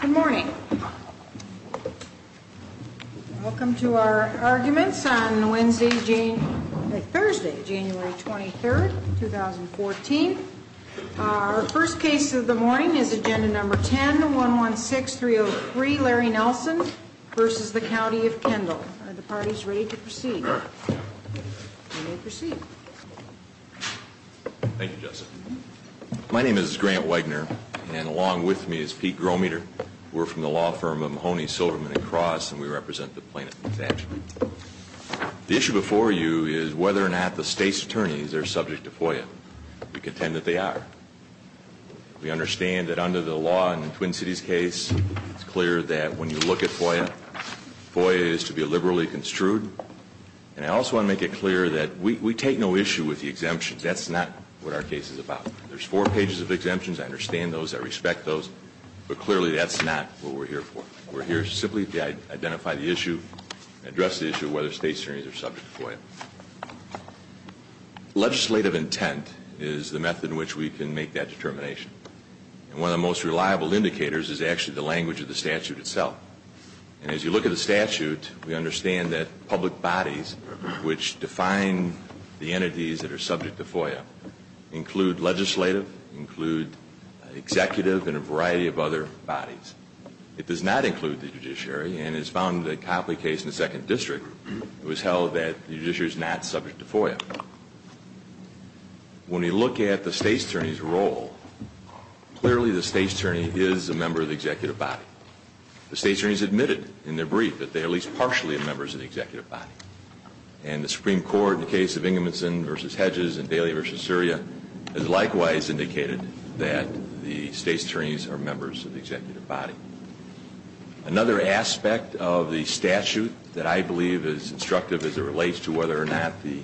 Good morning. Welcome to our arguments on Wednesday, January 23, 2014. Our first case of the morning is Agenda No. 10-116303, Larry Nelson v. The County of Kendall. Are the parties ready to proceed? We may proceed. Thank you, Jessica. My name is Grant Wegener, and along with me is Pete Grometer. We're from the law firm of Mahoney, Silverman & Cross, and we represent the plaintiff's action. The issue before you is whether or not the state's attorneys are subject to FOIA. We contend that they are. We understand that under the law in the Twin Cities case, it's clear that when you look at FOIA, FOIA is to be liberally construed, and I also want to make it clear that we take no issue with the exemption. That's not what our case is about. There's four pages of exemptions. I understand those. I respect those. But clearly, that's not what we're here for. We're here simply to identify the issue, address the issue of whether state's attorneys are subject to FOIA. Legislative intent is the method in which we can make that determination. And one of the most reliable indicators is actually the language of the statute itself. And as you look at the statute, we understand that public bodies which define the entities that are subject to FOIA include legislative, include executive, and a variety of other bodies. It does not include the judiciary, and it's found in the Copley case in the Second District, it was held that the judiciary is not subject to FOIA. When we look at the state's attorney's role, clearly the state's attorney is a member of the executive body. The state's attorney has admitted in their brief that they are at least partially members of the executive body. And the Supreme Court, in the case of Ingebrigtsen v. Hedges and Bailey v. Surya, has likewise indicated that the state's attorneys are members of the executive body. Another aspect of the statute that I believe is instructive as it relates to whether or not the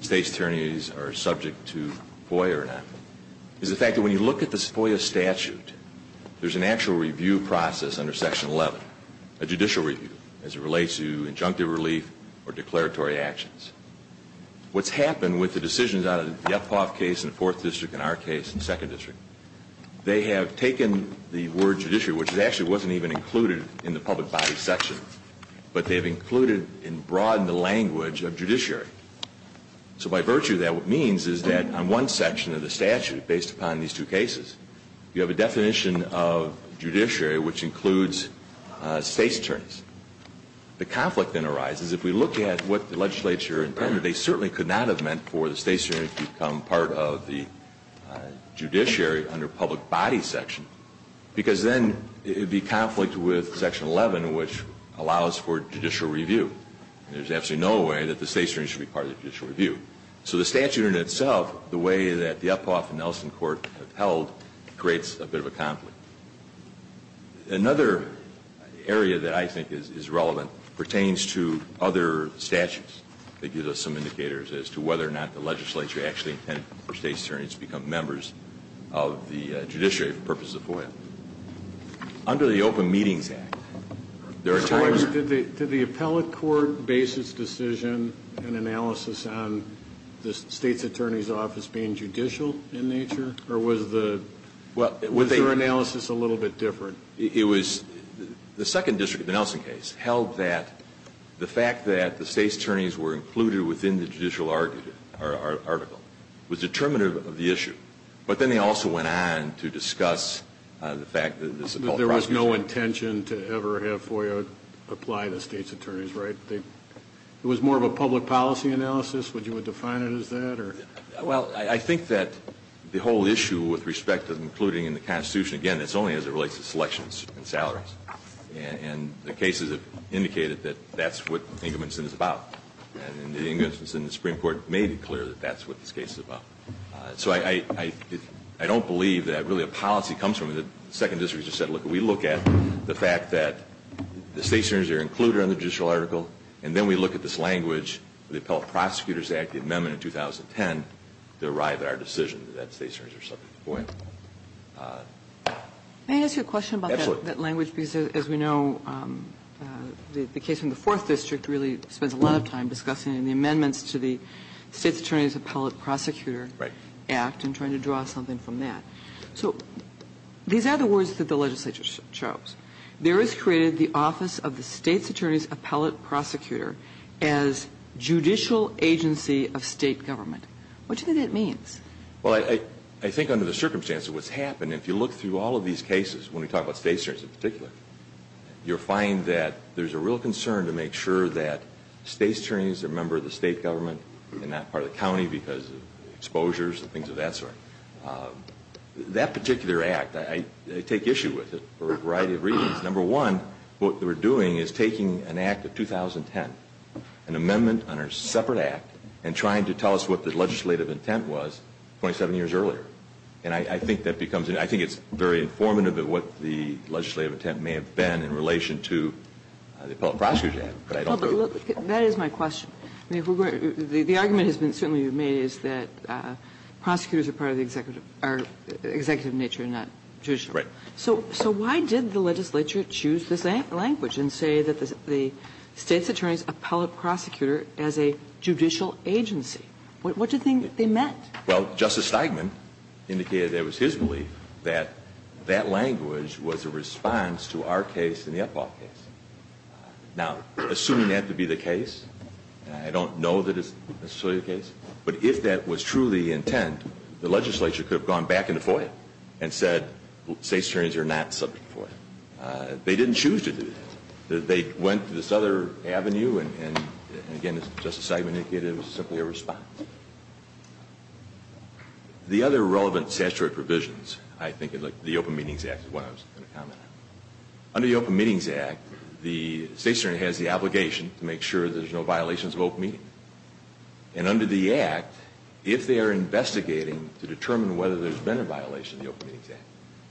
state's attorneys are subject to FOIA or not is the fact that when you look at the FOIA statute, there's an actual review process under Section 11, a judicial review as it relates to injunctive relief or declaratory actions. What's happened with the decisions out of the Ephoff case in the Fourth District and our case in the Second District, they have taken the word judiciary, which actually wasn't even included in the public body section, but they've included and broadened the language of judiciary. So by virtue of that, what it means is that on one section of the statute, based upon these two cases, you have a definition of judiciary which includes state's attorneys. The conflict then arises if we look at what the legislature intended. They certainly could not have meant for the state's attorney to become part of the judiciary under public body section, because then it would be conflict with Section 11, which allows for judicial review. There's absolutely no way that the state's attorney should be part of the judicial review. So the statute in itself, the way that the Ephoff and Nelson Court have held, creates a bit of a conflict. Another area that I think is relevant pertains to other statutes that give us some indicators as to whether or not the legislature actually intended for state's attorneys to become members of the judiciary for purposes of FOIA. Under the Open Meetings Act, there are times... Did the appellate court base its decision and analysis on the state's attorney's office being judicial in nature? Or was the analysis a little bit different? It was the second district, the Nelson case, held that the fact that the state's attorneys were included within the judicial article was determinative of the issue. But then they also went on to discuss the fact that... There was no intention to ever have FOIA apply to the state's attorneys, right? It was more of a public policy analysis? Would you define it as that? Well, I think that the whole issue with respect to including in the Constitution, again, it's only as it relates to selections and salaries. And the cases have indicated that that's what Ingebrigtsen is about. And the Ingebrigtsen Supreme Court made it clear that that's what this case is about. So I don't believe that really a policy comes from it. The second district just said, look, we look at the fact that the state's attorneys are included in the judicial article, and then we look at this language, the Appellate Prosecutors Act, the amendment in 2010, to arrive at our decision that state's attorneys are subject to FOIA. May I ask you a question about that language? Absolutely. Because, as we know, the case in the Fourth District really spends a lot of time discussing the amendments to the State's Attorney's Appellate Prosecutor Act and trying to draw something from that. So these are the words that the legislature chose. There is created the office of the State's Attorney's Appellate Prosecutor as judicial agency of state government. What do you think that means? Well, I think under the circumstance of what's happened, if you look through all of these cases, when we talk about state's attorneys in particular, you'll find that there's a real concern to make sure that state's attorneys are members of the state government and not part of the county because of exposures and things of that sort. That particular act, I take issue with it for a variety of reasons. Number one, what we're doing is taking an act of 2010, an amendment on a separate act, and trying to tell us what the legislative intent was 27 years earlier. And I think that becomes, I think it's very informative of what the legislative intent may have been in relation to the appellate prosecutor act. That is my question. The argument has certainly been made is that prosecutors are part of the executive nature and not judicial. Right. So why did the legislature choose this language and say that the state's attorney's appellate prosecutor as a judicial agency? What do you think they meant? Well, Justice Steigman indicated that it was his belief that that language was a response to our case and the appellate case. Now, assuming that to be the case, I don't know that it's necessarily the case, but if that was truly the intent, the legislature could have gone back into FOIA and said state's attorneys are not subject to FOIA. They didn't choose to do that. They went to this other avenue, and again, as Justice Steigman indicated, it was simply a response. The other relevant statutory provisions, I think the Open Meetings Act is one I was going to comment on. Under the Open Meetings Act, the state's attorney has the obligation to make sure there's no violations of open meeting. And under the act, if they are investigating to determine whether there's been a violation of the Open Meetings Act,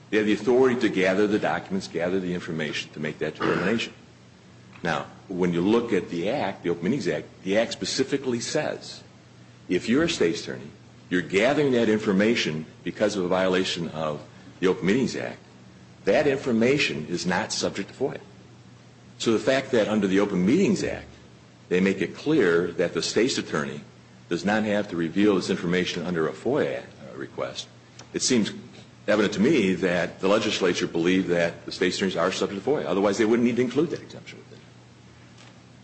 they have the authority to gather the documents, gather the information to make that determination. Now, when you look at the act, the Open Meetings Act, the act specifically says if you're a state's attorney, you're gathering that information because of a violation of the Open Meetings Act, that information is not subject to FOIA. So the fact that under the Open Meetings Act, they make it clear that the state's attorney does not have to reveal this information under a FOIA request, it seems evident to me that the legislature believed that the state's attorneys are subject to FOIA. Otherwise, they wouldn't need to include that exemption.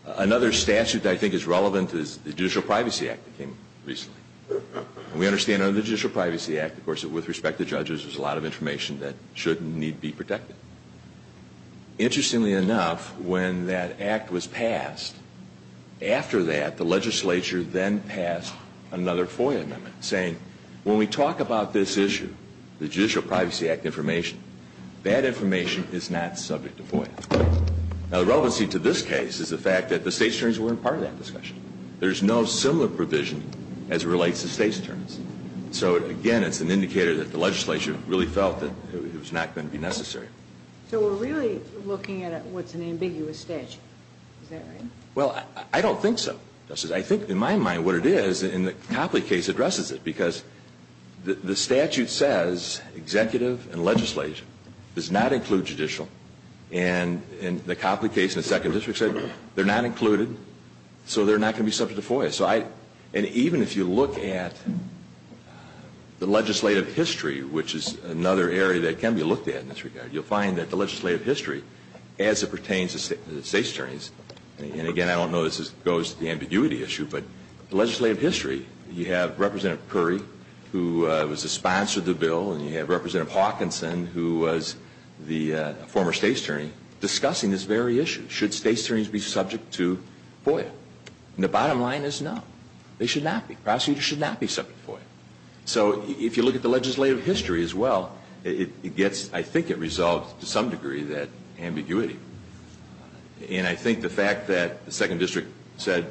Another statute that I think is relevant is the Judicial Privacy Act that came recently. And we understand under the Judicial Privacy Act, of course, with respect to judges, there's a lot of information that should and need be protected. Interestingly enough, when that act was passed, after that, the legislature then passed another FOIA amendment, saying when we talk about this issue, the Judicial Privacy Act information, that information is not subject to FOIA. Now, the relevancy to this case is the fact that the state's attorneys weren't part of that discussion. There's no similar provision as relates to state's attorneys. So, again, it's an indicator that the legislature really felt that it was not going to be necessary. So we're really looking at what's an ambiguous statute. Is that right? Well, I don't think so. I think, in my mind, what it is, and the Copley case addresses it. Because the statute says executive and legislature does not include judicial. And the Copley case in the Second District said they're not included, so they're not going to be subject to FOIA. And even if you look at the legislative history, which is another area that can be looked at in this regard, you'll find that the legislative history, as it pertains to state's attorneys, and, again, I don't know if this goes to the ambiguity issue, but the legislative history, you have Representative Curry, who was the sponsor of the bill, and you have Representative Hawkinson, who was the former state's attorney, discussing this very issue. Should state's attorneys be subject to FOIA? And the bottom line is no. They should not be. Prosecutors should not be subject to FOIA. So if you look at the legislative history as well, I think it resolves, to some degree, that ambiguity. And I think the fact that the Second District said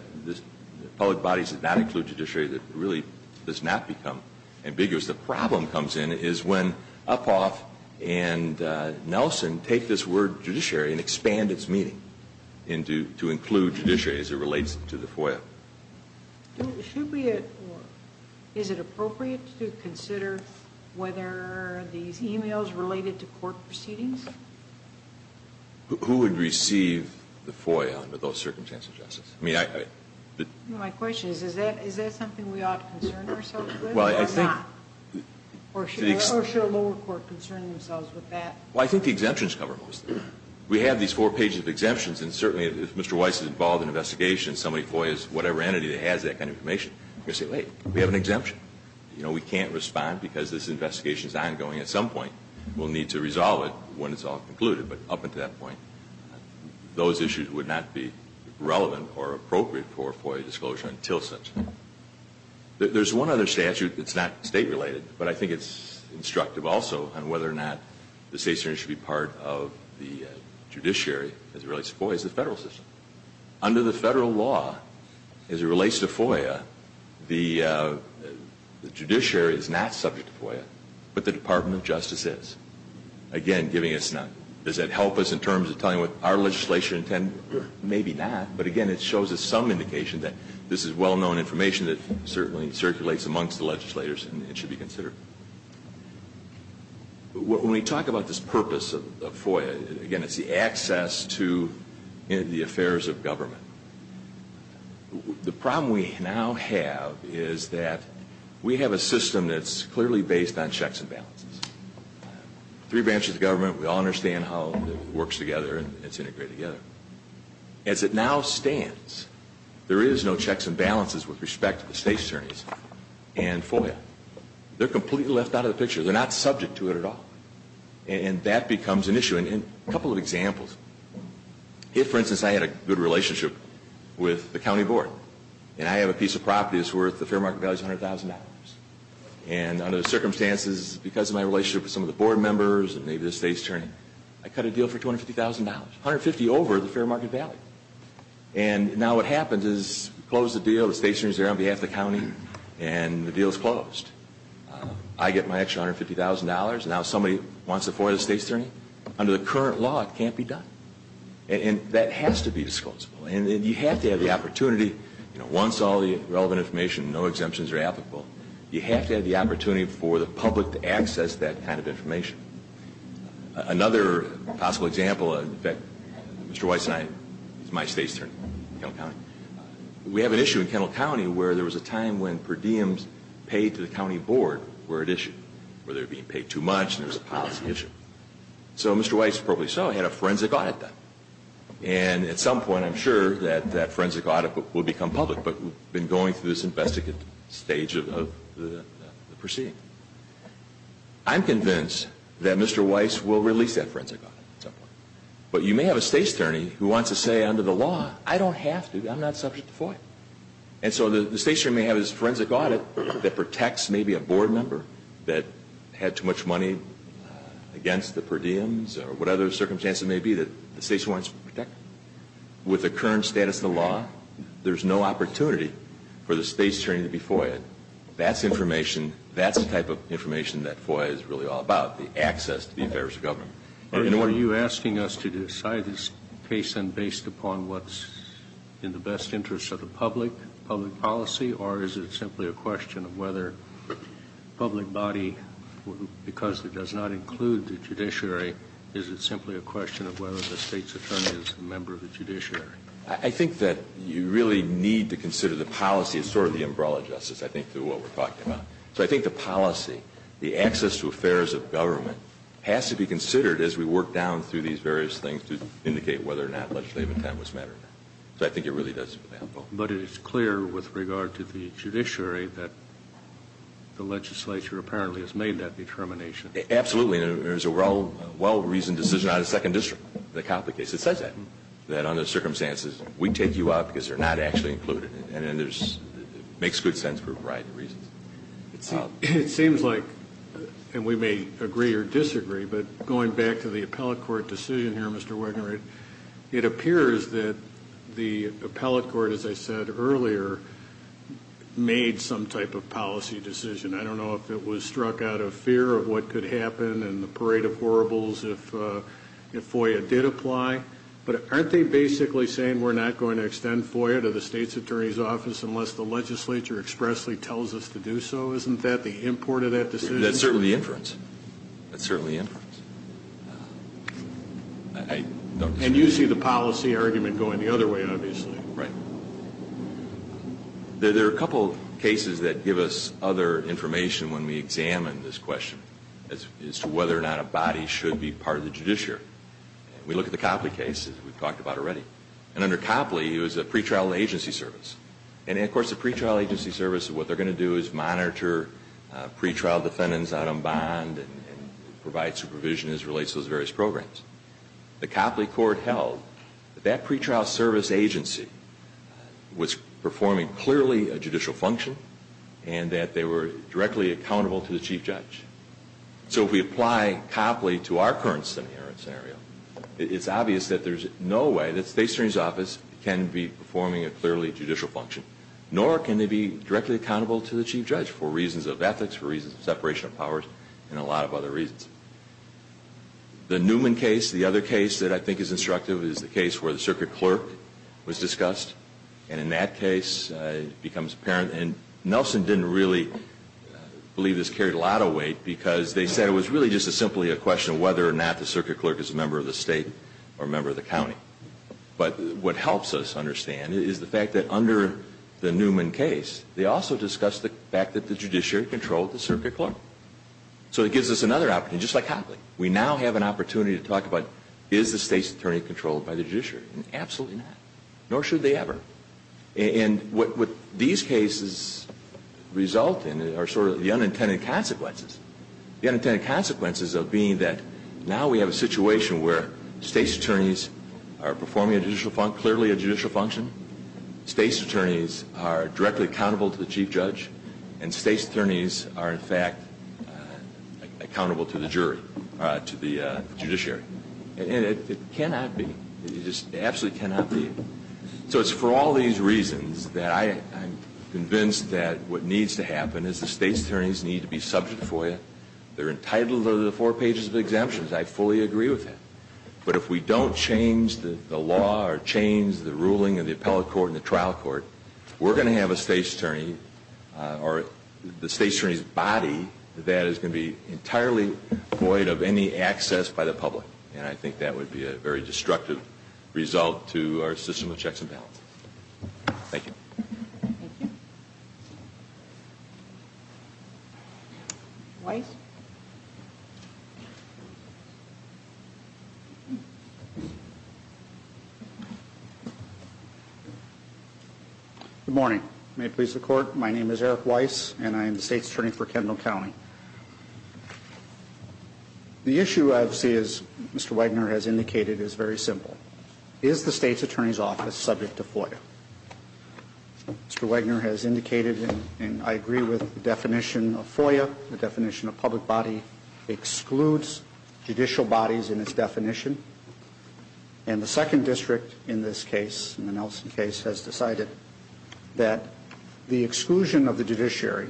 public bodies did not include judiciary, that really does not become ambiguous. The problem comes in is when Uphoff and Nelson take this word judiciary and expand its meaning to include judiciary as it relates to the FOIA. Should we, or is it appropriate to consider whether these e-mails related to court proceedings? Who would receive the FOIA under those circumstances, Justice? My question is, is that something we ought to concern ourselves with or not? Or should a lower court concern themselves with that? We have these four pages of exemptions, and certainly if Mr. Weiss is involved in an investigation and somebody FOIAs whatever entity that has that kind of information, we say, wait, we have an exemption. You know, we can't respond because this investigation is ongoing at some point. We'll need to resolve it when it's all concluded. But up until that point, those issues would not be relevant or appropriate for FOIA disclosure until such. There's one other statute that's not state-related, but I think it's instructive also on whether or not the state should be part of the judiciary as it relates to FOIA is the federal system. Under the federal law, as it relates to FOIA, the judiciary is not subject to FOIA, but the Department of Justice is. Again, giving us none. Does that help us in terms of telling what our legislation intended? Maybe not, but again, it shows us some indication that this is well-known information that certainly circulates amongst the legislators and should be considered. When we talk about this purpose of FOIA, again, it's the access to the affairs of government. The problem we now have is that we have a system that's clearly based on checks and balances. Three branches of government, we all understand how it works together and it's integrated together. As it now stands, there is no checks and balances with respect to the state's attorneys and FOIA. They're completely left out of the picture. They're not subject to it at all, and that becomes an issue. A couple of examples. If, for instance, I had a good relationship with the county board and I have a piece of property that's worth the fair market value of $100,000, and under the circumstances because of my relationship with some of the board members and maybe the state's attorney, I cut a deal for $250,000. $150,000 over the fair market value. And now what happens is we close the deal, the state's attorney is there on behalf of the county, and the deal is closed. I get my extra $150,000. Now somebody wants to FOIA the state's attorney. Under the current law, it can't be done. And that has to be disposable. And you have to have the opportunity. Once all the relevant information, no exemptions are applicable, you have to have the opportunity for the public to access that kind of information. Another possible example, in fact, Mr. Weiss and I, this is my state's attorney in Kennel County, we have an issue in Kennel County where there was a time when per diems paid to the county board were at issue, where they were being paid too much and there was a policy issue. So Mr. Weiss probably saw I had a forensic audit done. And at some point I'm sure that that forensic audit will become public, but we've been going through this investigative stage of the proceeding. I'm convinced that Mr. Weiss will release that forensic audit at some point. But you may have a state's attorney who wants to say under the law, I don't have to, I'm not subject to FOIA. And so the state's attorney may have this forensic audit that protects maybe a board member that had too much money against the per diems or whatever the circumstances may be that the state's attorney wants to protect. With the current status of the law, there's no opportunity for the state's attorney to be FOIA'd. That's information, that's the type of information that FOIA is really all about, the access to the affairs of government. Are you asking us to decide this case then based upon what's in the best interest of the public, public policy, or is it simply a question of whether the public body, because it does not include the judiciary, is it simply a question of whether the state's attorney is a member of the judiciary? I think that you really need to consider the policy as sort of the umbrella justice. I think through what we're talking about. So I think the policy, the access to affairs of government, has to be considered as we work down through these various things to indicate whether or not legislative intent was met or not. So I think it really does. But it's clear with regard to the judiciary that the legislature apparently has made that determination. Absolutely. There's a well-reasoned decision out of the Second District, the Copley case. It says that, that under the circumstances, we take you out because you're not actually included. And then there's, it makes good sense for a variety of reasons. It seems like, and we may agree or disagree, but going back to the appellate court decision here, Mr. Wegener, it appears that the appellate court, as I said earlier, made some type of policy decision. I don't know if it was struck out of fear of what could happen and the parade of horribles if FOIA did apply. But aren't they basically saying we're not going to extend FOIA to the State's Attorney's Office unless the legislature expressly tells us to do so? Isn't that the import of that decision? That's certainly inference. That's certainly inference. And you see the policy argument going the other way, obviously. Right. There are a couple cases that give us other information when we examine this question as to whether or not a body should be part of the judiciary. And we look at the Copley case, as we've talked about already. And under Copley, it was a pretrial agency service. And, of course, a pretrial agency service, what they're going to do is monitor pretrial defendants out on bond and provide supervision as it relates to those various programs. The Copley court held that that pretrial service agency was performing clearly a judicial function and that they were directly accountable to the chief judge. So if we apply Copley to our current scenario, it's obvious that there's no way that the State's Attorney's Office can be performing a clearly judicial function, nor can they be directly accountable to the chief judge for reasons of ethics, for reasons of separation of powers, and a lot of other reasons. The Newman case, the other case that I think is instructive, is the case where the circuit clerk was discussed. And in that case, it becomes apparent, and Nelson didn't really believe this carried a lot of weight, because they said it was really just simply a question of whether or not the circuit clerk is a member of the State or a member of the county. But what helps us understand is the fact that under the Newman case, they also discussed the fact that the judiciary controlled the circuit clerk. So it gives us another opportunity, just like Copley. We now have an opportunity to talk about, is the State's Attorney controlled by the judiciary? Absolutely not, nor should they ever. And what these cases result in are sort of the unintended consequences. The unintended consequences of being that now we have a situation where State's Attorneys are performing a judicial function, clearly a judicial function, State's Attorneys are directly accountable to the chief judge, and State's Attorneys are in fact accountable to the jury, to the judiciary. And it cannot be. It just absolutely cannot be. So it's for all these reasons that I am convinced that what needs to happen is the State's Attorneys need to be subject for you. They're entitled under the four pages of exemptions. I fully agree with that. But if we don't change the law or change the ruling of the appellate court and the trial court, we're going to have a State's Attorney, or the State's Attorney's body, that is going to be entirely void of any access by the public. And I think that would be a very destructive result to our system of checks and balances. Thank you. Thank you. Weiss? Good morning. May it please the Court, my name is Eric Weiss, and I am the State's Attorney for Kendall County. The issue I see, as Mr. Wagner has indicated, is very simple. Is the State's Attorney's office subject to FOIA? Mr. Wagner has indicated, and I agree with the definition of FOIA, the definition of public body excludes judicial bodies in its definition. And the second district in this case, in the Nelson case, has decided that the exclusion of the judiciary,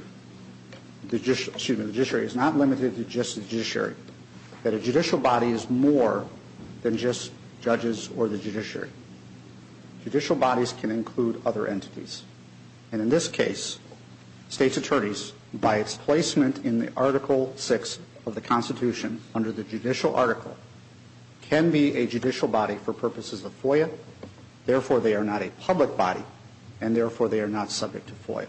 excuse me, the judiciary, is not limited to just the judiciary. That a judicial body is more than just judges or the judiciary. Judicial bodies can include other entities. And in this case, State's Attorneys, by its placement in the Article VI of the Constitution, under the judicial article, can be a judicial body for purposes of FOIA. Therefore, they are not a public body. And therefore, they are not subject to FOIA.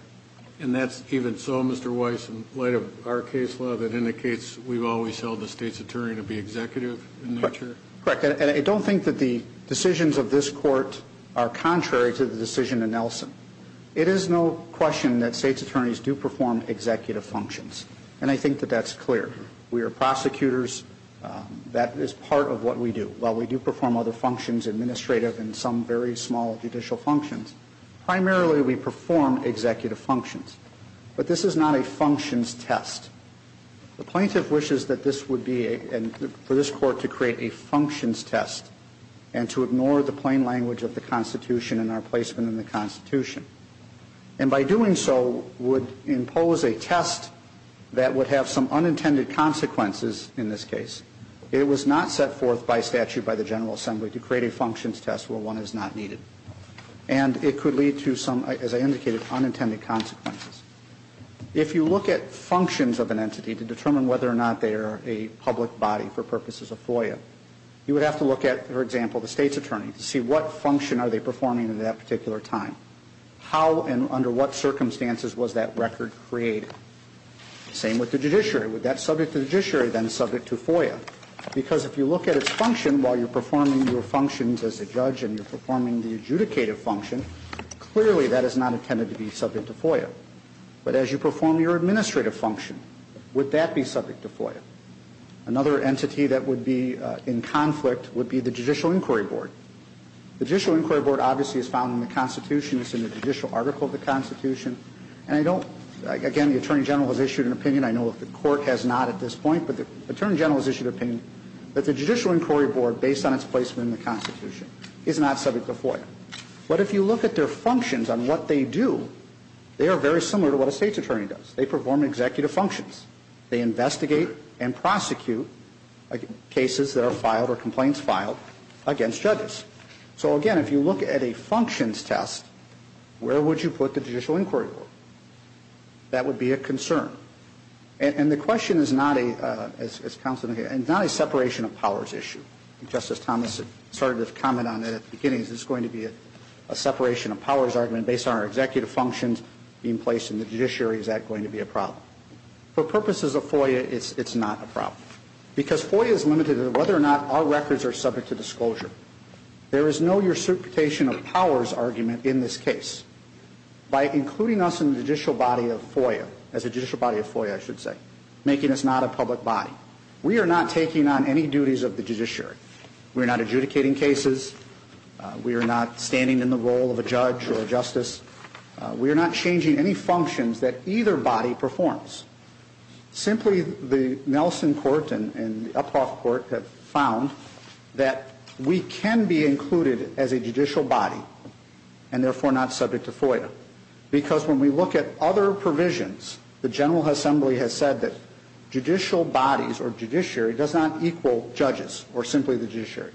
And that's even so, Mr. Weiss, in light of our case law, that indicates we've always held the State's Attorney to be executive in nature? Correct. And I don't think that the decisions of this Court are contrary to the decision in Nelson. It is no question that State's Attorneys do perform executive functions. And I think that that's clear. We are prosecutors. That is part of what we do. While we do perform other functions, administrative and some very small judicial functions, primarily we perform executive functions. But this is not a functions test. The plaintiff wishes that this would be, for this Court, to create a functions test and to ignore the plain language of the Constitution and our placement in the Constitution. And by doing so would impose a test that would have some unintended consequences in this case. It was not set forth by statute by the General Assembly to create a functions test where one is not needed. And it could lead to some, as I indicated, unintended consequences. If you look at functions of an entity to determine whether or not they are a public body for purposes of FOIA, you would have to look at, for example, the State's Attorney to see what function are they performing at that particular time. How and under what circumstances was that record created? Same with the judiciary. Would that subject the judiciary then subject to FOIA? Because if you look at its function while you're performing your functions as a judge and you're performing the adjudicative function, clearly that is not intended to be subject to FOIA. But as you perform your administrative function, would that be subject to FOIA? Another entity that would be in conflict would be the Judicial Inquiry Board. The Judicial Inquiry Board obviously is found in the Constitution. It's in the judicial article of the Constitution. And I don't, again, the Attorney General has issued an opinion. I know the Court has not at this point. But the Attorney General has issued an opinion that the Judicial Inquiry Board, based on its placement in the Constitution, is not subject to FOIA. But if you look at their functions on what they do, they are very similar to what a State's Attorney does. They perform executive functions. They investigate and prosecute cases that are filed or complaints filed against judges. So, again, if you look at a functions test, where would you put the Judicial Inquiry Board? That would be a concern. And the question is not a separation of powers issue. Justice Thomas started to comment on it at the beginning. Is this going to be a separation of powers argument based on our executive functions being placed in the judiciary? Is that going to be a problem? For purposes of FOIA, it's not a problem. Because FOIA is limited to whether or not our records are subject to disclosure. There is no reciprocation of powers argument in this case. By including us in the judicial body of FOIA, as a judicial body of FOIA, I should say, making us not a public body, we are not taking on any duties of the judiciary. We are not adjudicating cases. We are not standing in the role of a judge or a justice. We are not changing any functions that either body performs. Simply, the Nelson Court and the Uphoff Court have found that we can be included as a judicial body, and therefore not subject to FOIA. Because when we look at other provisions, the General Assembly has said that judicial bodies or judiciary does not equal judges or simply the judiciary.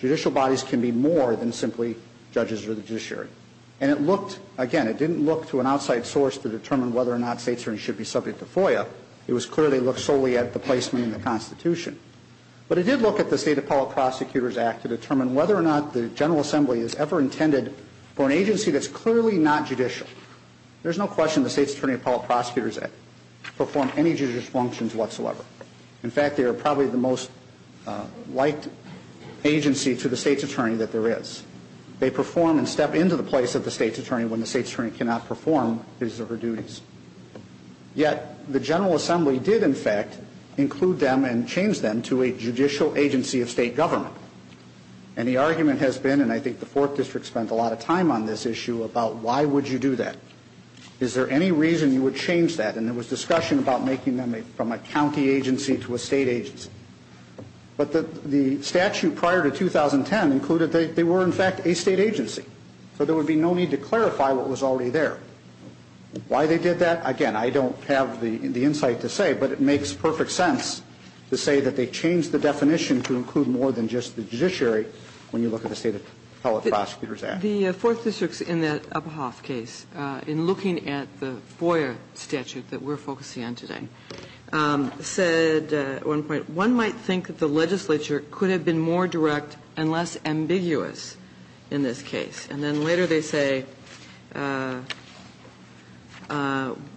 Judicial bodies can be more than simply judges or the judiciary. And it looked, again, it didn't look to an outside source to determine whether or not states should be subject to FOIA. It was clearly looked solely at the placement in the Constitution. But it did look at the State Appellate Prosecutors Act to determine whether or not the General Assembly is ever intended for an agency that's clearly not judicial. There's no question the State's Attorney Appellate Prosecutors Act performed any judicious functions whatsoever. In fact, they are probably the most liked agency to the state's attorney that there is. They perform and step into the place of the state's attorney when the state's attorney cannot perform his or her duties. Yet, the General Assembly did, in fact, include them and change them to a judicial agency of state government. And the argument has been, and I think the Fourth District spent a lot of time on this issue, about why would you do that. Is there any reason you would change that? And there was discussion about making them from a county agency to a state agency. But the statute prior to 2010 included they were, in fact, a state agency. So there would be no need to clarify what was already there. Why they did that, again, I don't have the insight to say. But it makes perfect sense to say that they changed the definition to include more than just the judiciary when you look at the State Appellate Prosecutors Act. The Fourth District in that Uphoff case, in looking at the FOIA statute that we're focusing on today, said at one point, one might think that the legislature could have been more direct and less ambiguous in this case. And then later they say,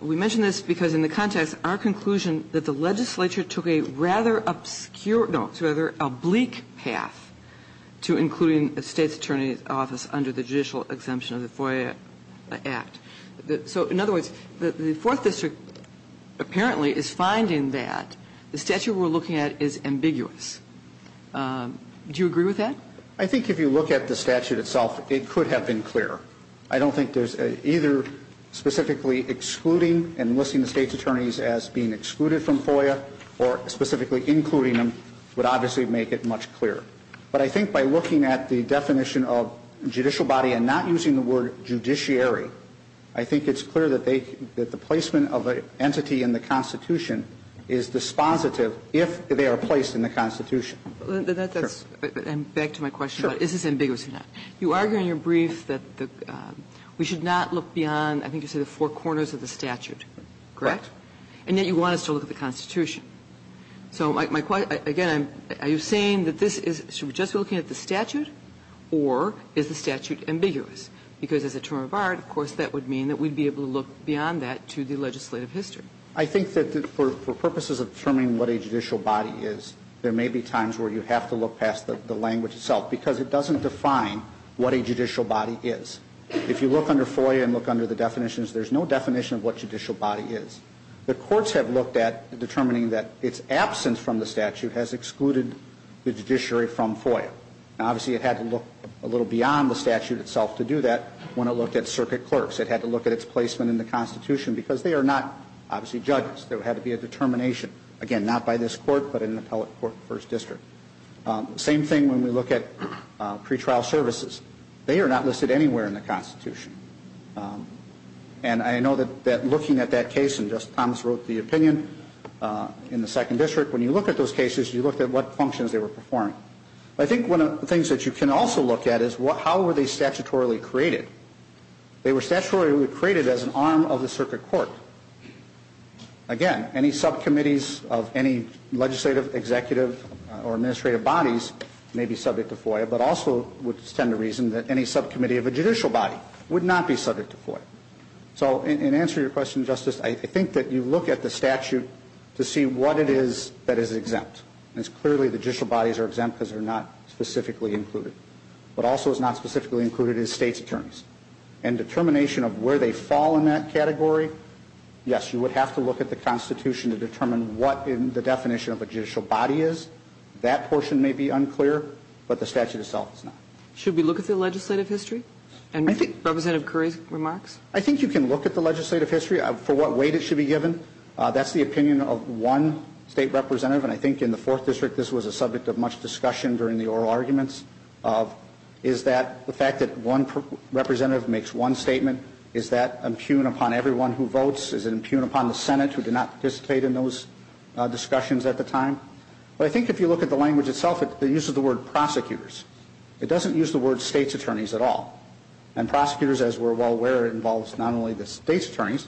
we mention this because in the context, our conclusion that the legislature took a rather obscure, no, a rather oblique path to including a State's Attorney's Office under the judicial exemption of the FOIA Act. So in other words, the Fourth District apparently is finding that the statute we're looking at is ambiguous. Do you agree with that? I think if you look at the statute itself, it could have been clearer. I don't think there's either specifically excluding and listing the State's Attorneys as being excluded from FOIA or specifically including them would obviously make it much clearer. But I think by looking at the definition of judicial body and not using the word judiciary, I think it's clear that they, that the placement of an entity in the Constitution is dispositive if they are placed in the Constitution. That's, and back to my question. Sure. Is this ambiguous or not? You argue in your brief that we should not look beyond, I think you said, the four corners of the statute, correct? And yet you want us to look at the Constitution. So my question, again, are you saying that this is, should we just be looking at the statute or is the statute ambiguous? Because as a term of art, of course, that would mean that we'd be able to look beyond that to the legislative history. I think that for purposes of determining what a judicial body is, there may be times where you have to look past the language itself because it doesn't define what a judicial body is. If you look under FOIA and look under the definitions, there's no definition of what judicial body is. The courts have looked at determining that its absence from the statute has excluded the judiciary from FOIA. Now, obviously, it had to look a little beyond the statute itself to do that when it looked at circuit clerks. It had to look at its placement in the Constitution because they are not, obviously, judges. There had to be a determination, again, not by this court but in an appellate court first district. Same thing when we look at pretrial services. They are not listed anywhere in the Constitution. And I know that looking at that case, and just Thomas wrote the opinion in the second district, when you look at those cases, you looked at what functions they were performing. I think one of the things that you can also look at is how were they statutorily created? They were statutorily created as an arm of the circuit court. Again, any subcommittees of any legislative, executive, or administrative bodies may be subject to FOIA but also would tend to reason that any subcommittee of a judicial body would not be subject to FOIA. So in answer to your question, Justice, I think that you look at the statute to see what it is that is exempt. It's clearly the judicial bodies are exempt because they are not specifically included. But also it's not specifically included in the State's terms. And determination of where they fall in that category, yes, you would have to look at the Constitution to determine what the definition of a judicial body is. That portion may be unclear, but the statute itself is not. Should we look at the legislative history and Representative Curry's remarks? I think you can look at the legislative history for what weight it should be given. That's the opinion of one State representative, and I think in the Fourth District this was a subject of much discussion during the oral arguments, is that the fact that one representative makes one statement, is that impugn upon everyone who votes? Is it impugn upon the Senate who did not participate in those discussions at the time? But I think if you look at the language itself, it uses the word prosecutors. It doesn't use the word State's attorneys at all. And prosecutors, as we're well aware, involves not only the State's attorneys,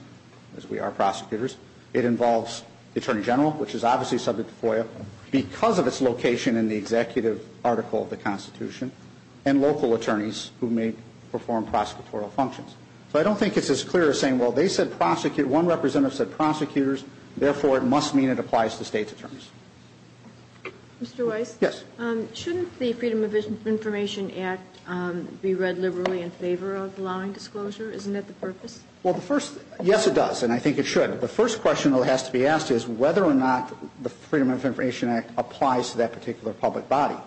as we are prosecutors, it involves the Attorney General, which is obviously subject to FOIA, because of its location in the executive article of the Constitution, and local attorneys who may perform prosecutorial functions. So I don't think it's as clear as saying, well, they said prosecute, one representative said prosecutors, therefore it must mean it applies to State's attorneys. Mr. Weiss? Yes. Shouldn't the Freedom of Information Act be read liberally in favor of allowing disclosure? Isn't that the purpose? Well, the first – yes, it does, and I think it should. The first question that has to be asked is whether or not the Freedom of Information Act applies to that particular public body.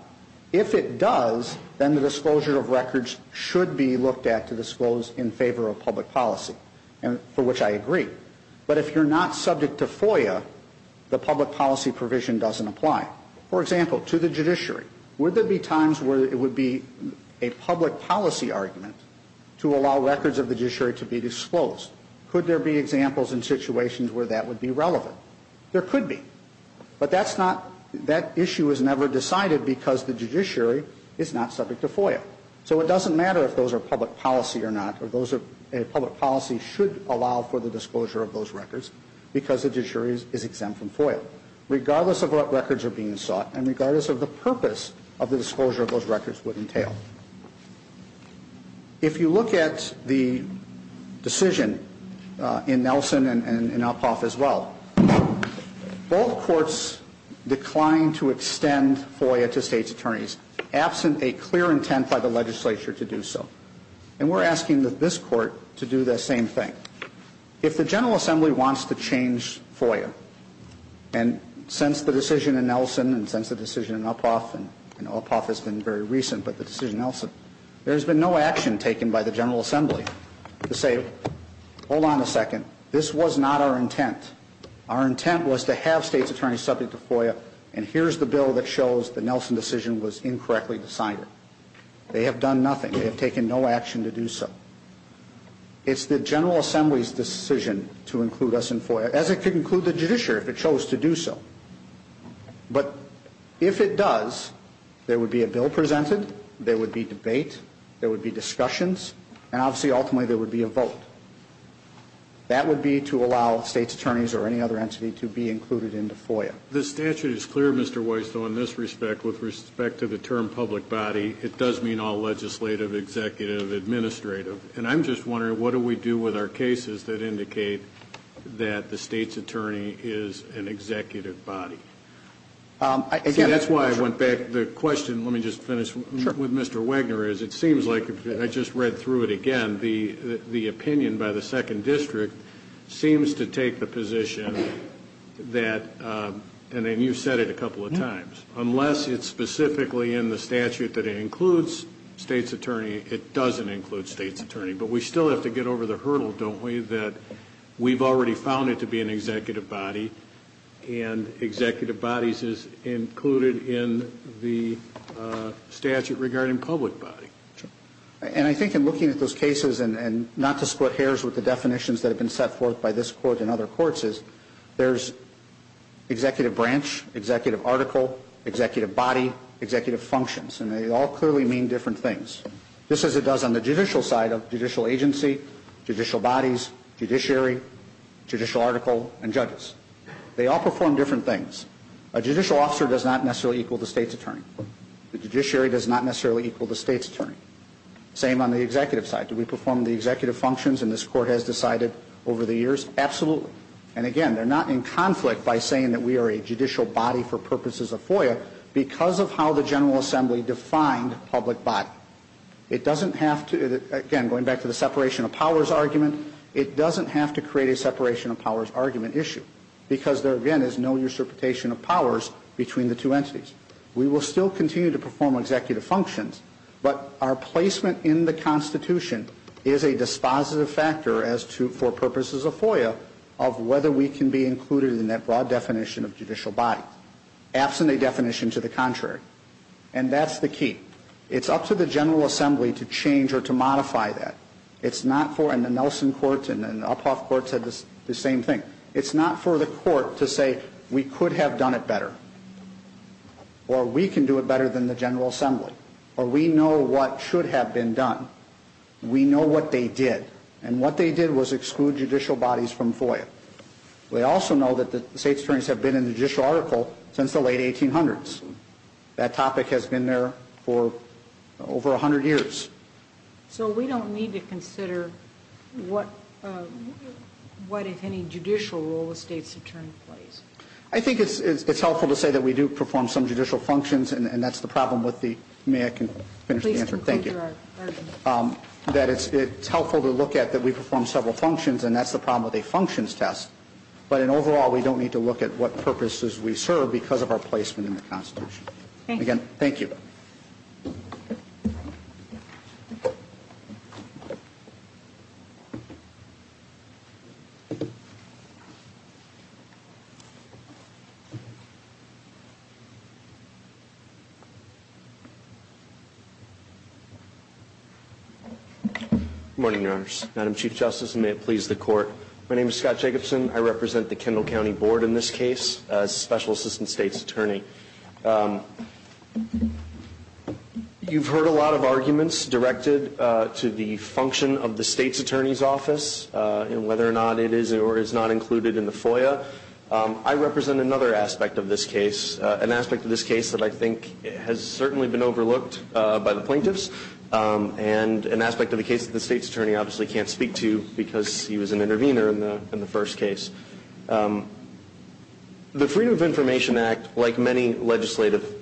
If it does, then the disclosure of records should be looked at to disclose in favor of public policy, for which I agree. But if you're not subject to FOIA, the public policy provision doesn't apply. For example, to the judiciary, would there be times where it would be a public policy argument to allow records of the judiciary to be disclosed? Could there be examples in situations where that would be relevant? There could be. But that's not – that issue is never decided because the judiciary is not subject to FOIA. So it doesn't matter if those are public policy or not, or those are – public policy should allow for the disclosure of those records because the judiciary is exempt from FOIA. Regardless of what records are being sought and regardless of the purpose of the disclosure of those records would entail. If you look at the decision in Nelson and Uphoff as well, both courts declined to extend FOIA to states' attorneys absent a clear intent by the legislature to do so. And we're asking this court to do the same thing. If the General Assembly wants to change FOIA, and since the decision in Nelson and since the decision in Uphoff, and Uphoff has been very recent, but the decision in Nelson, there's been no action taken by the General Assembly to say, hold on a second, this was not our intent. Our intent was to have states' attorneys subject to FOIA and here's the bill that shows the Nelson decision was incorrectly decided. They have done nothing. They have taken no action to do so. It's the General Assembly's decision to include us in FOIA, as it could include the judiciary if it chose to do so. But if it does, there would be a bill presented, there would be debate, there would be discussions, and obviously ultimately there would be a vote. That would be to allow states' attorneys or any other entity to be included into FOIA. The statute is clear, Mr. Weiss, though, in this respect with respect to the term public body, it does mean all legislative, executive, administrative. And I'm just wondering, what do we do with our cases that indicate that the state's attorney is an executive body? See, that's why I went back. The question, let me just finish with Mr. Wagner, is it seems like, I just read through it again, the opinion by the second district seems to take the position that, and you've said it a couple of times, unless it's specifically in the statute that it includes state's attorney, it doesn't include state's attorney. But we still have to get over the hurdle, don't we, that we've already found it to be an executive body, and executive bodies is included in the statute regarding public body. Sure. And I think in looking at those cases, and not to split hairs with the definitions that have been set forth by this Court and other courts, is there's executive branch, executive article, executive body, executive functions. And they all clearly mean different things. Just as it does on the judicial side of judicial agency, judicial bodies, judiciary, judicial article, and judges. They all perform different things. A judicial officer does not necessarily equal the state's attorney. The judiciary does not necessarily equal the state's attorney. Same on the executive side. Do we perform the executive functions, and this Court has decided over the years? Absolutely. And, again, they're not in conflict by saying that we are a judicial body for purposes of FOIA because of how the General Assembly defined public body. It doesn't have to, again, going back to the separation of powers argument, it doesn't have to create a separation of powers argument issue because there, again, is no interpretation of powers between the two entities. We will still continue to perform executive functions, but our placement in the of whether we can be included in that broad definition of judicial body. Absent a definition to the contrary. And that's the key. It's up to the General Assembly to change or to modify that. It's not for, and the Nelson court and the Uphoff court said the same thing, it's not for the court to say, we could have done it better. Or we can do it better than the General Assembly. Or we know what should have been done. We know what they did. And what they did was exclude judicial bodies from FOIA. We also know that the state attorneys have been in the judicial article since the late 1800s. That topic has been there for over 100 years. So we don't need to consider what if any judicial role a state's attorney plays? I think it's helpful to say that we do perform some judicial functions, and that's the problem with the, may I finish the answer? Please conclude your argument. That it's helpful to look at that we perform several functions, and that's the problem with a functions test. But in overall, we don't need to look at what purposes we serve because of our placement in the Constitution. Again, thank you. Good morning, Your Honors. Madam Chief Justice, and may it please the court. My name is Scott Jacobson. I represent the Kendall County Board in this case as Special Assistant State's Attorney. You've heard a lot of arguments directed to the function of the state's attorney's office and whether or not it is or is not included in the FOIA. I represent another aspect of this case, an aspect of this case that I think has certainly been overlooked by the public, and an aspect of the case that the state's attorney obviously can't speak to because he was an intervener in the first case. The Freedom of Information Act, like many legislative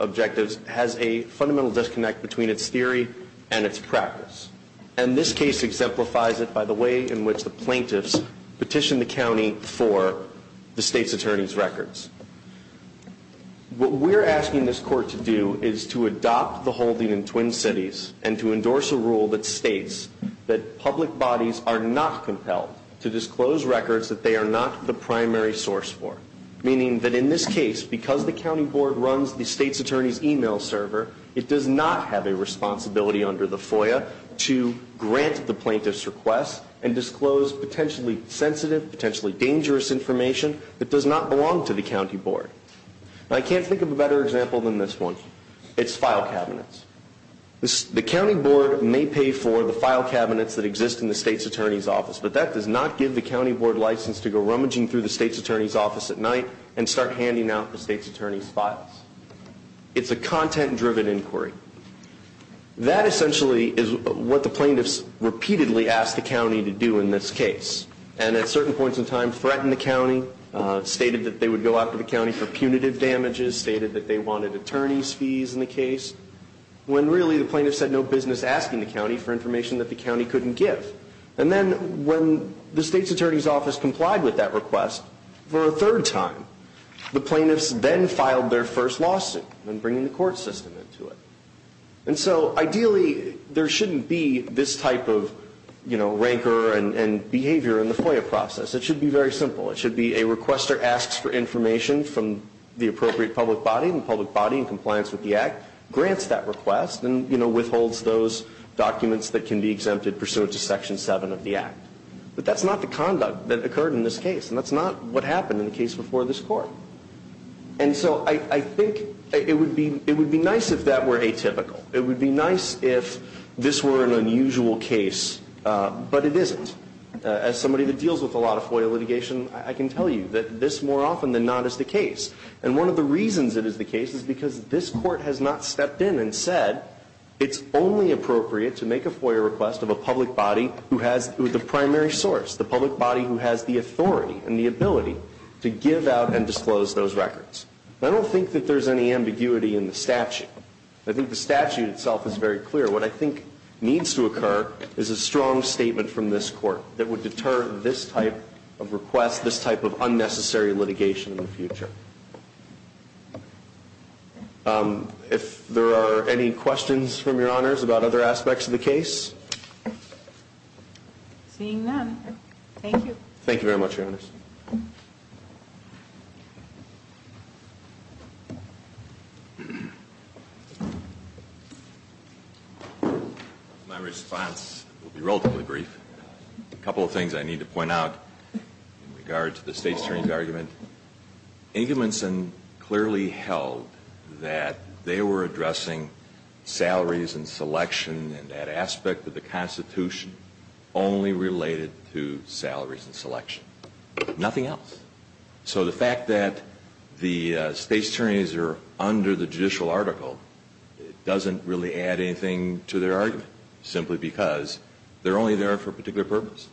objectives, has a fundamental disconnect between its theory and its practice. And this case exemplifies it by the way in which the plaintiffs petitioned the county for the state's attorney's records. What we're asking this court to do is to adopt the holding in Twin Cities and to adopt a rule that states that public bodies are not compelled to disclose records that they are not the primary source for. Meaning that in this case, because the county board runs the state's attorney's email server, it does not have a responsibility under the FOIA to grant the plaintiffs' requests and disclose potentially sensitive, potentially dangerous information that does not belong to the county board. I can't think of a better example than this one. It's file cabinets. The county board may pay for the file cabinets that exist in the state's attorney's office, but that does not give the county board license to go rummaging through the state's attorney's office at night and start handing out the state's attorney's files. It's a content-driven inquiry. That essentially is what the plaintiffs repeatedly asked the county to do in this case, and at certain points in time threatened the county, stated that they would go after the county for punitive damages, stated that they wanted attorney's fees in the case, when really the plaintiffs had no business asking the county for information that the county couldn't give. And then when the state's attorney's office complied with that request for a third time, the plaintiffs then filed their first lawsuit and bringing the court system into it. And so ideally there shouldn't be this type of, you know, rancor and behavior in the FOIA process. It should be very simple. It should be a requester asks for information from the appropriate public body, and the public body in compliance with the act grants that request and, you know, withholds those documents that can be exempted pursuant to Section 7 of the act. But that's not the conduct that occurred in this case, and that's not what happened in the case before this court. And so I think it would be nice if that were atypical. It would be nice if this were an unusual case, but it isn't. As somebody that deals with a lot of FOIA litigation, I can tell you that this more often than not is the case. And one of the reasons it is the case is because this court has not stepped in and said it's only appropriate to make a FOIA request of a public body who has the primary source, the public body who has the authority and the ability to give out and disclose those records. I don't think that there's any ambiguity in the statute. I think the statute itself is very clear. What I think needs to occur is a strong statement from this court that would deter this type of request, this type of unnecessary litigation in the future. If there are any questions from Your Honors about other aspects of the case? Seeing none, thank you. Thank you very much, Your Honors. My response will be relatively brief. A couple of things I need to point out in regard to the State's Attorney's argument. Ingeminsen clearly held that they were addressing salaries and selection and that aspect of the Constitution only related to salaries and selection, nothing else. So the fact that the State's Attorneys are under the judicial article doesn't really add anything to their argument, simply because they're only there for a particular purpose.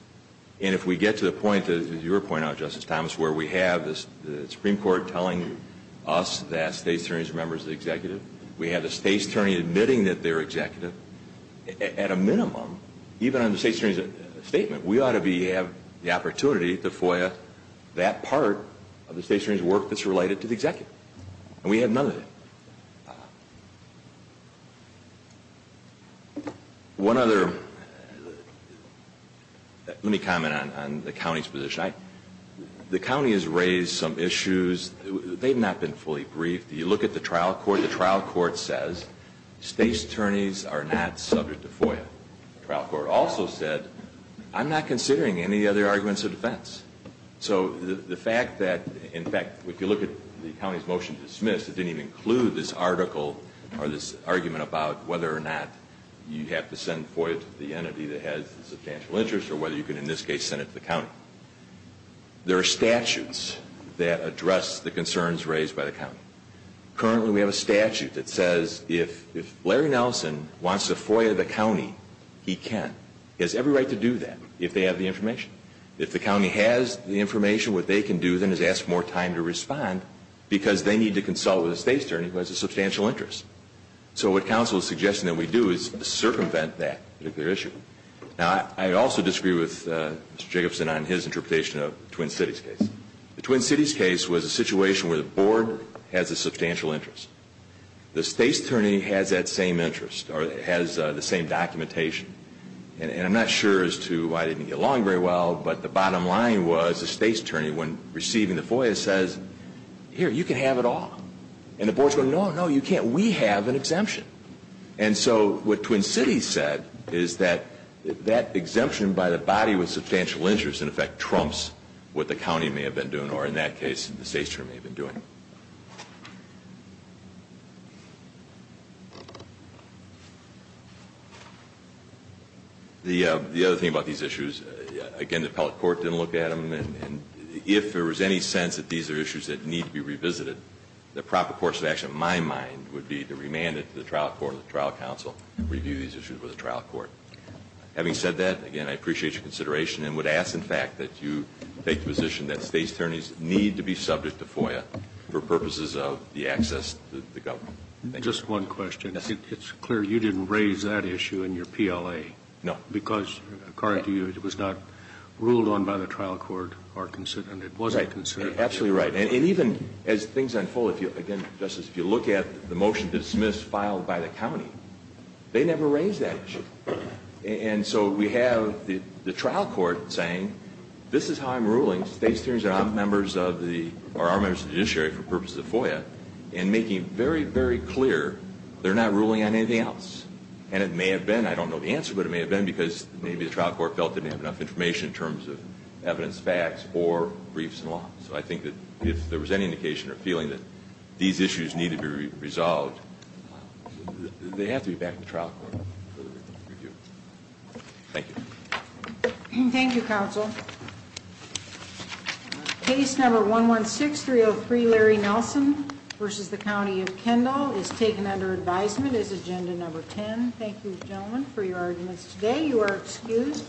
And if we get to the point, as you were pointing out, Justice Thomas, where we have the Supreme Court telling us that State's Attorneys are members of the Executive, we have the State's Attorney admitting that they're Executive, at a minimum, even on the State's Attorney's statement, we ought to be able to have the opportunity to FOIA that part of the State's Attorney's work that's related to the Executive. And we have none of it. One other, let me comment on the County's position. The County has raised some issues. They've not been fully briefed. You look at the trial court. The trial court says State's Attorneys are not subject to FOIA. The trial court also said, I'm not considering any other arguments of defense. So the fact that, in fact, if you look at the County's motion to dismiss, it didn't even include this article or this argument about whether or not you have to send FOIA to the entity that has substantial interest or whether you can, in this case, send it to the County. There are statutes that address the concerns raised by the County. Currently, we have a statute that says if Larry Nelson wants to FOIA the County, he can. He has every right to do that, if they have the information. If the County has the information, what they can do then is ask more time to respond because they need to consult with a State's Attorney who has a substantial interest. So what counsel is suggesting that we do is circumvent that particular issue. Now, I also disagree with Mr. Jacobson on his interpretation of the Twin Cities case. The Twin Cities case was a situation where the Board has a substantial interest. The State's Attorney has that same interest or has the same documentation. And I'm not sure as to why it didn't get along very well, but the bottom line was the State's Attorney, when receiving the FOIA, says, here, you can have it all. And the Board's going, no, no, you can't. We have an exemption. And so what Twin Cities said is that that exemption by the body with substantial interest in effect trumps what the County may have been doing or, in that case, the State's Attorney may have been doing. The other thing about these issues, again, the appellate court didn't look at them. And if there was any sense that these are issues that need to be revisited, the proper course of action, in my mind, would be to remand it to the trial court and the trial counsel and review these issues with the trial court. Having said that, again, I appreciate your consideration and would ask, in fact, that you take the position that State's Attorneys need to be subject to FOIA for purposes of the access to the government. Just one question. It's clear you didn't raise that issue in your PLA. No. Because, according to you, it was not ruled on by the trial court or considered. It wasn't considered. Absolutely right. And even as things unfold, again, Justice, if you look at the motion dismissed, filed by the County, they never raised that issue. And so we have the trial court saying, this is how I'm ruling. And State's attorneys are members of the judiciary for purposes of FOIA and making very, very clear they're not ruling on anything else. And it may have been. I don't know the answer, but it may have been because maybe the trial court felt they didn't have enough information in terms of evidence, facts, or briefs and law. So I think that if there was any indication or feeling that these issues need to be resolved, they have to be back to the trial court for review. Thank you. Thank you, Counsel. Case number 116303, Larry Nelson v. The County of Kendall, is taken under advisement as agenda number 10. Thank you, gentlemen, for your arguments today. You are excused.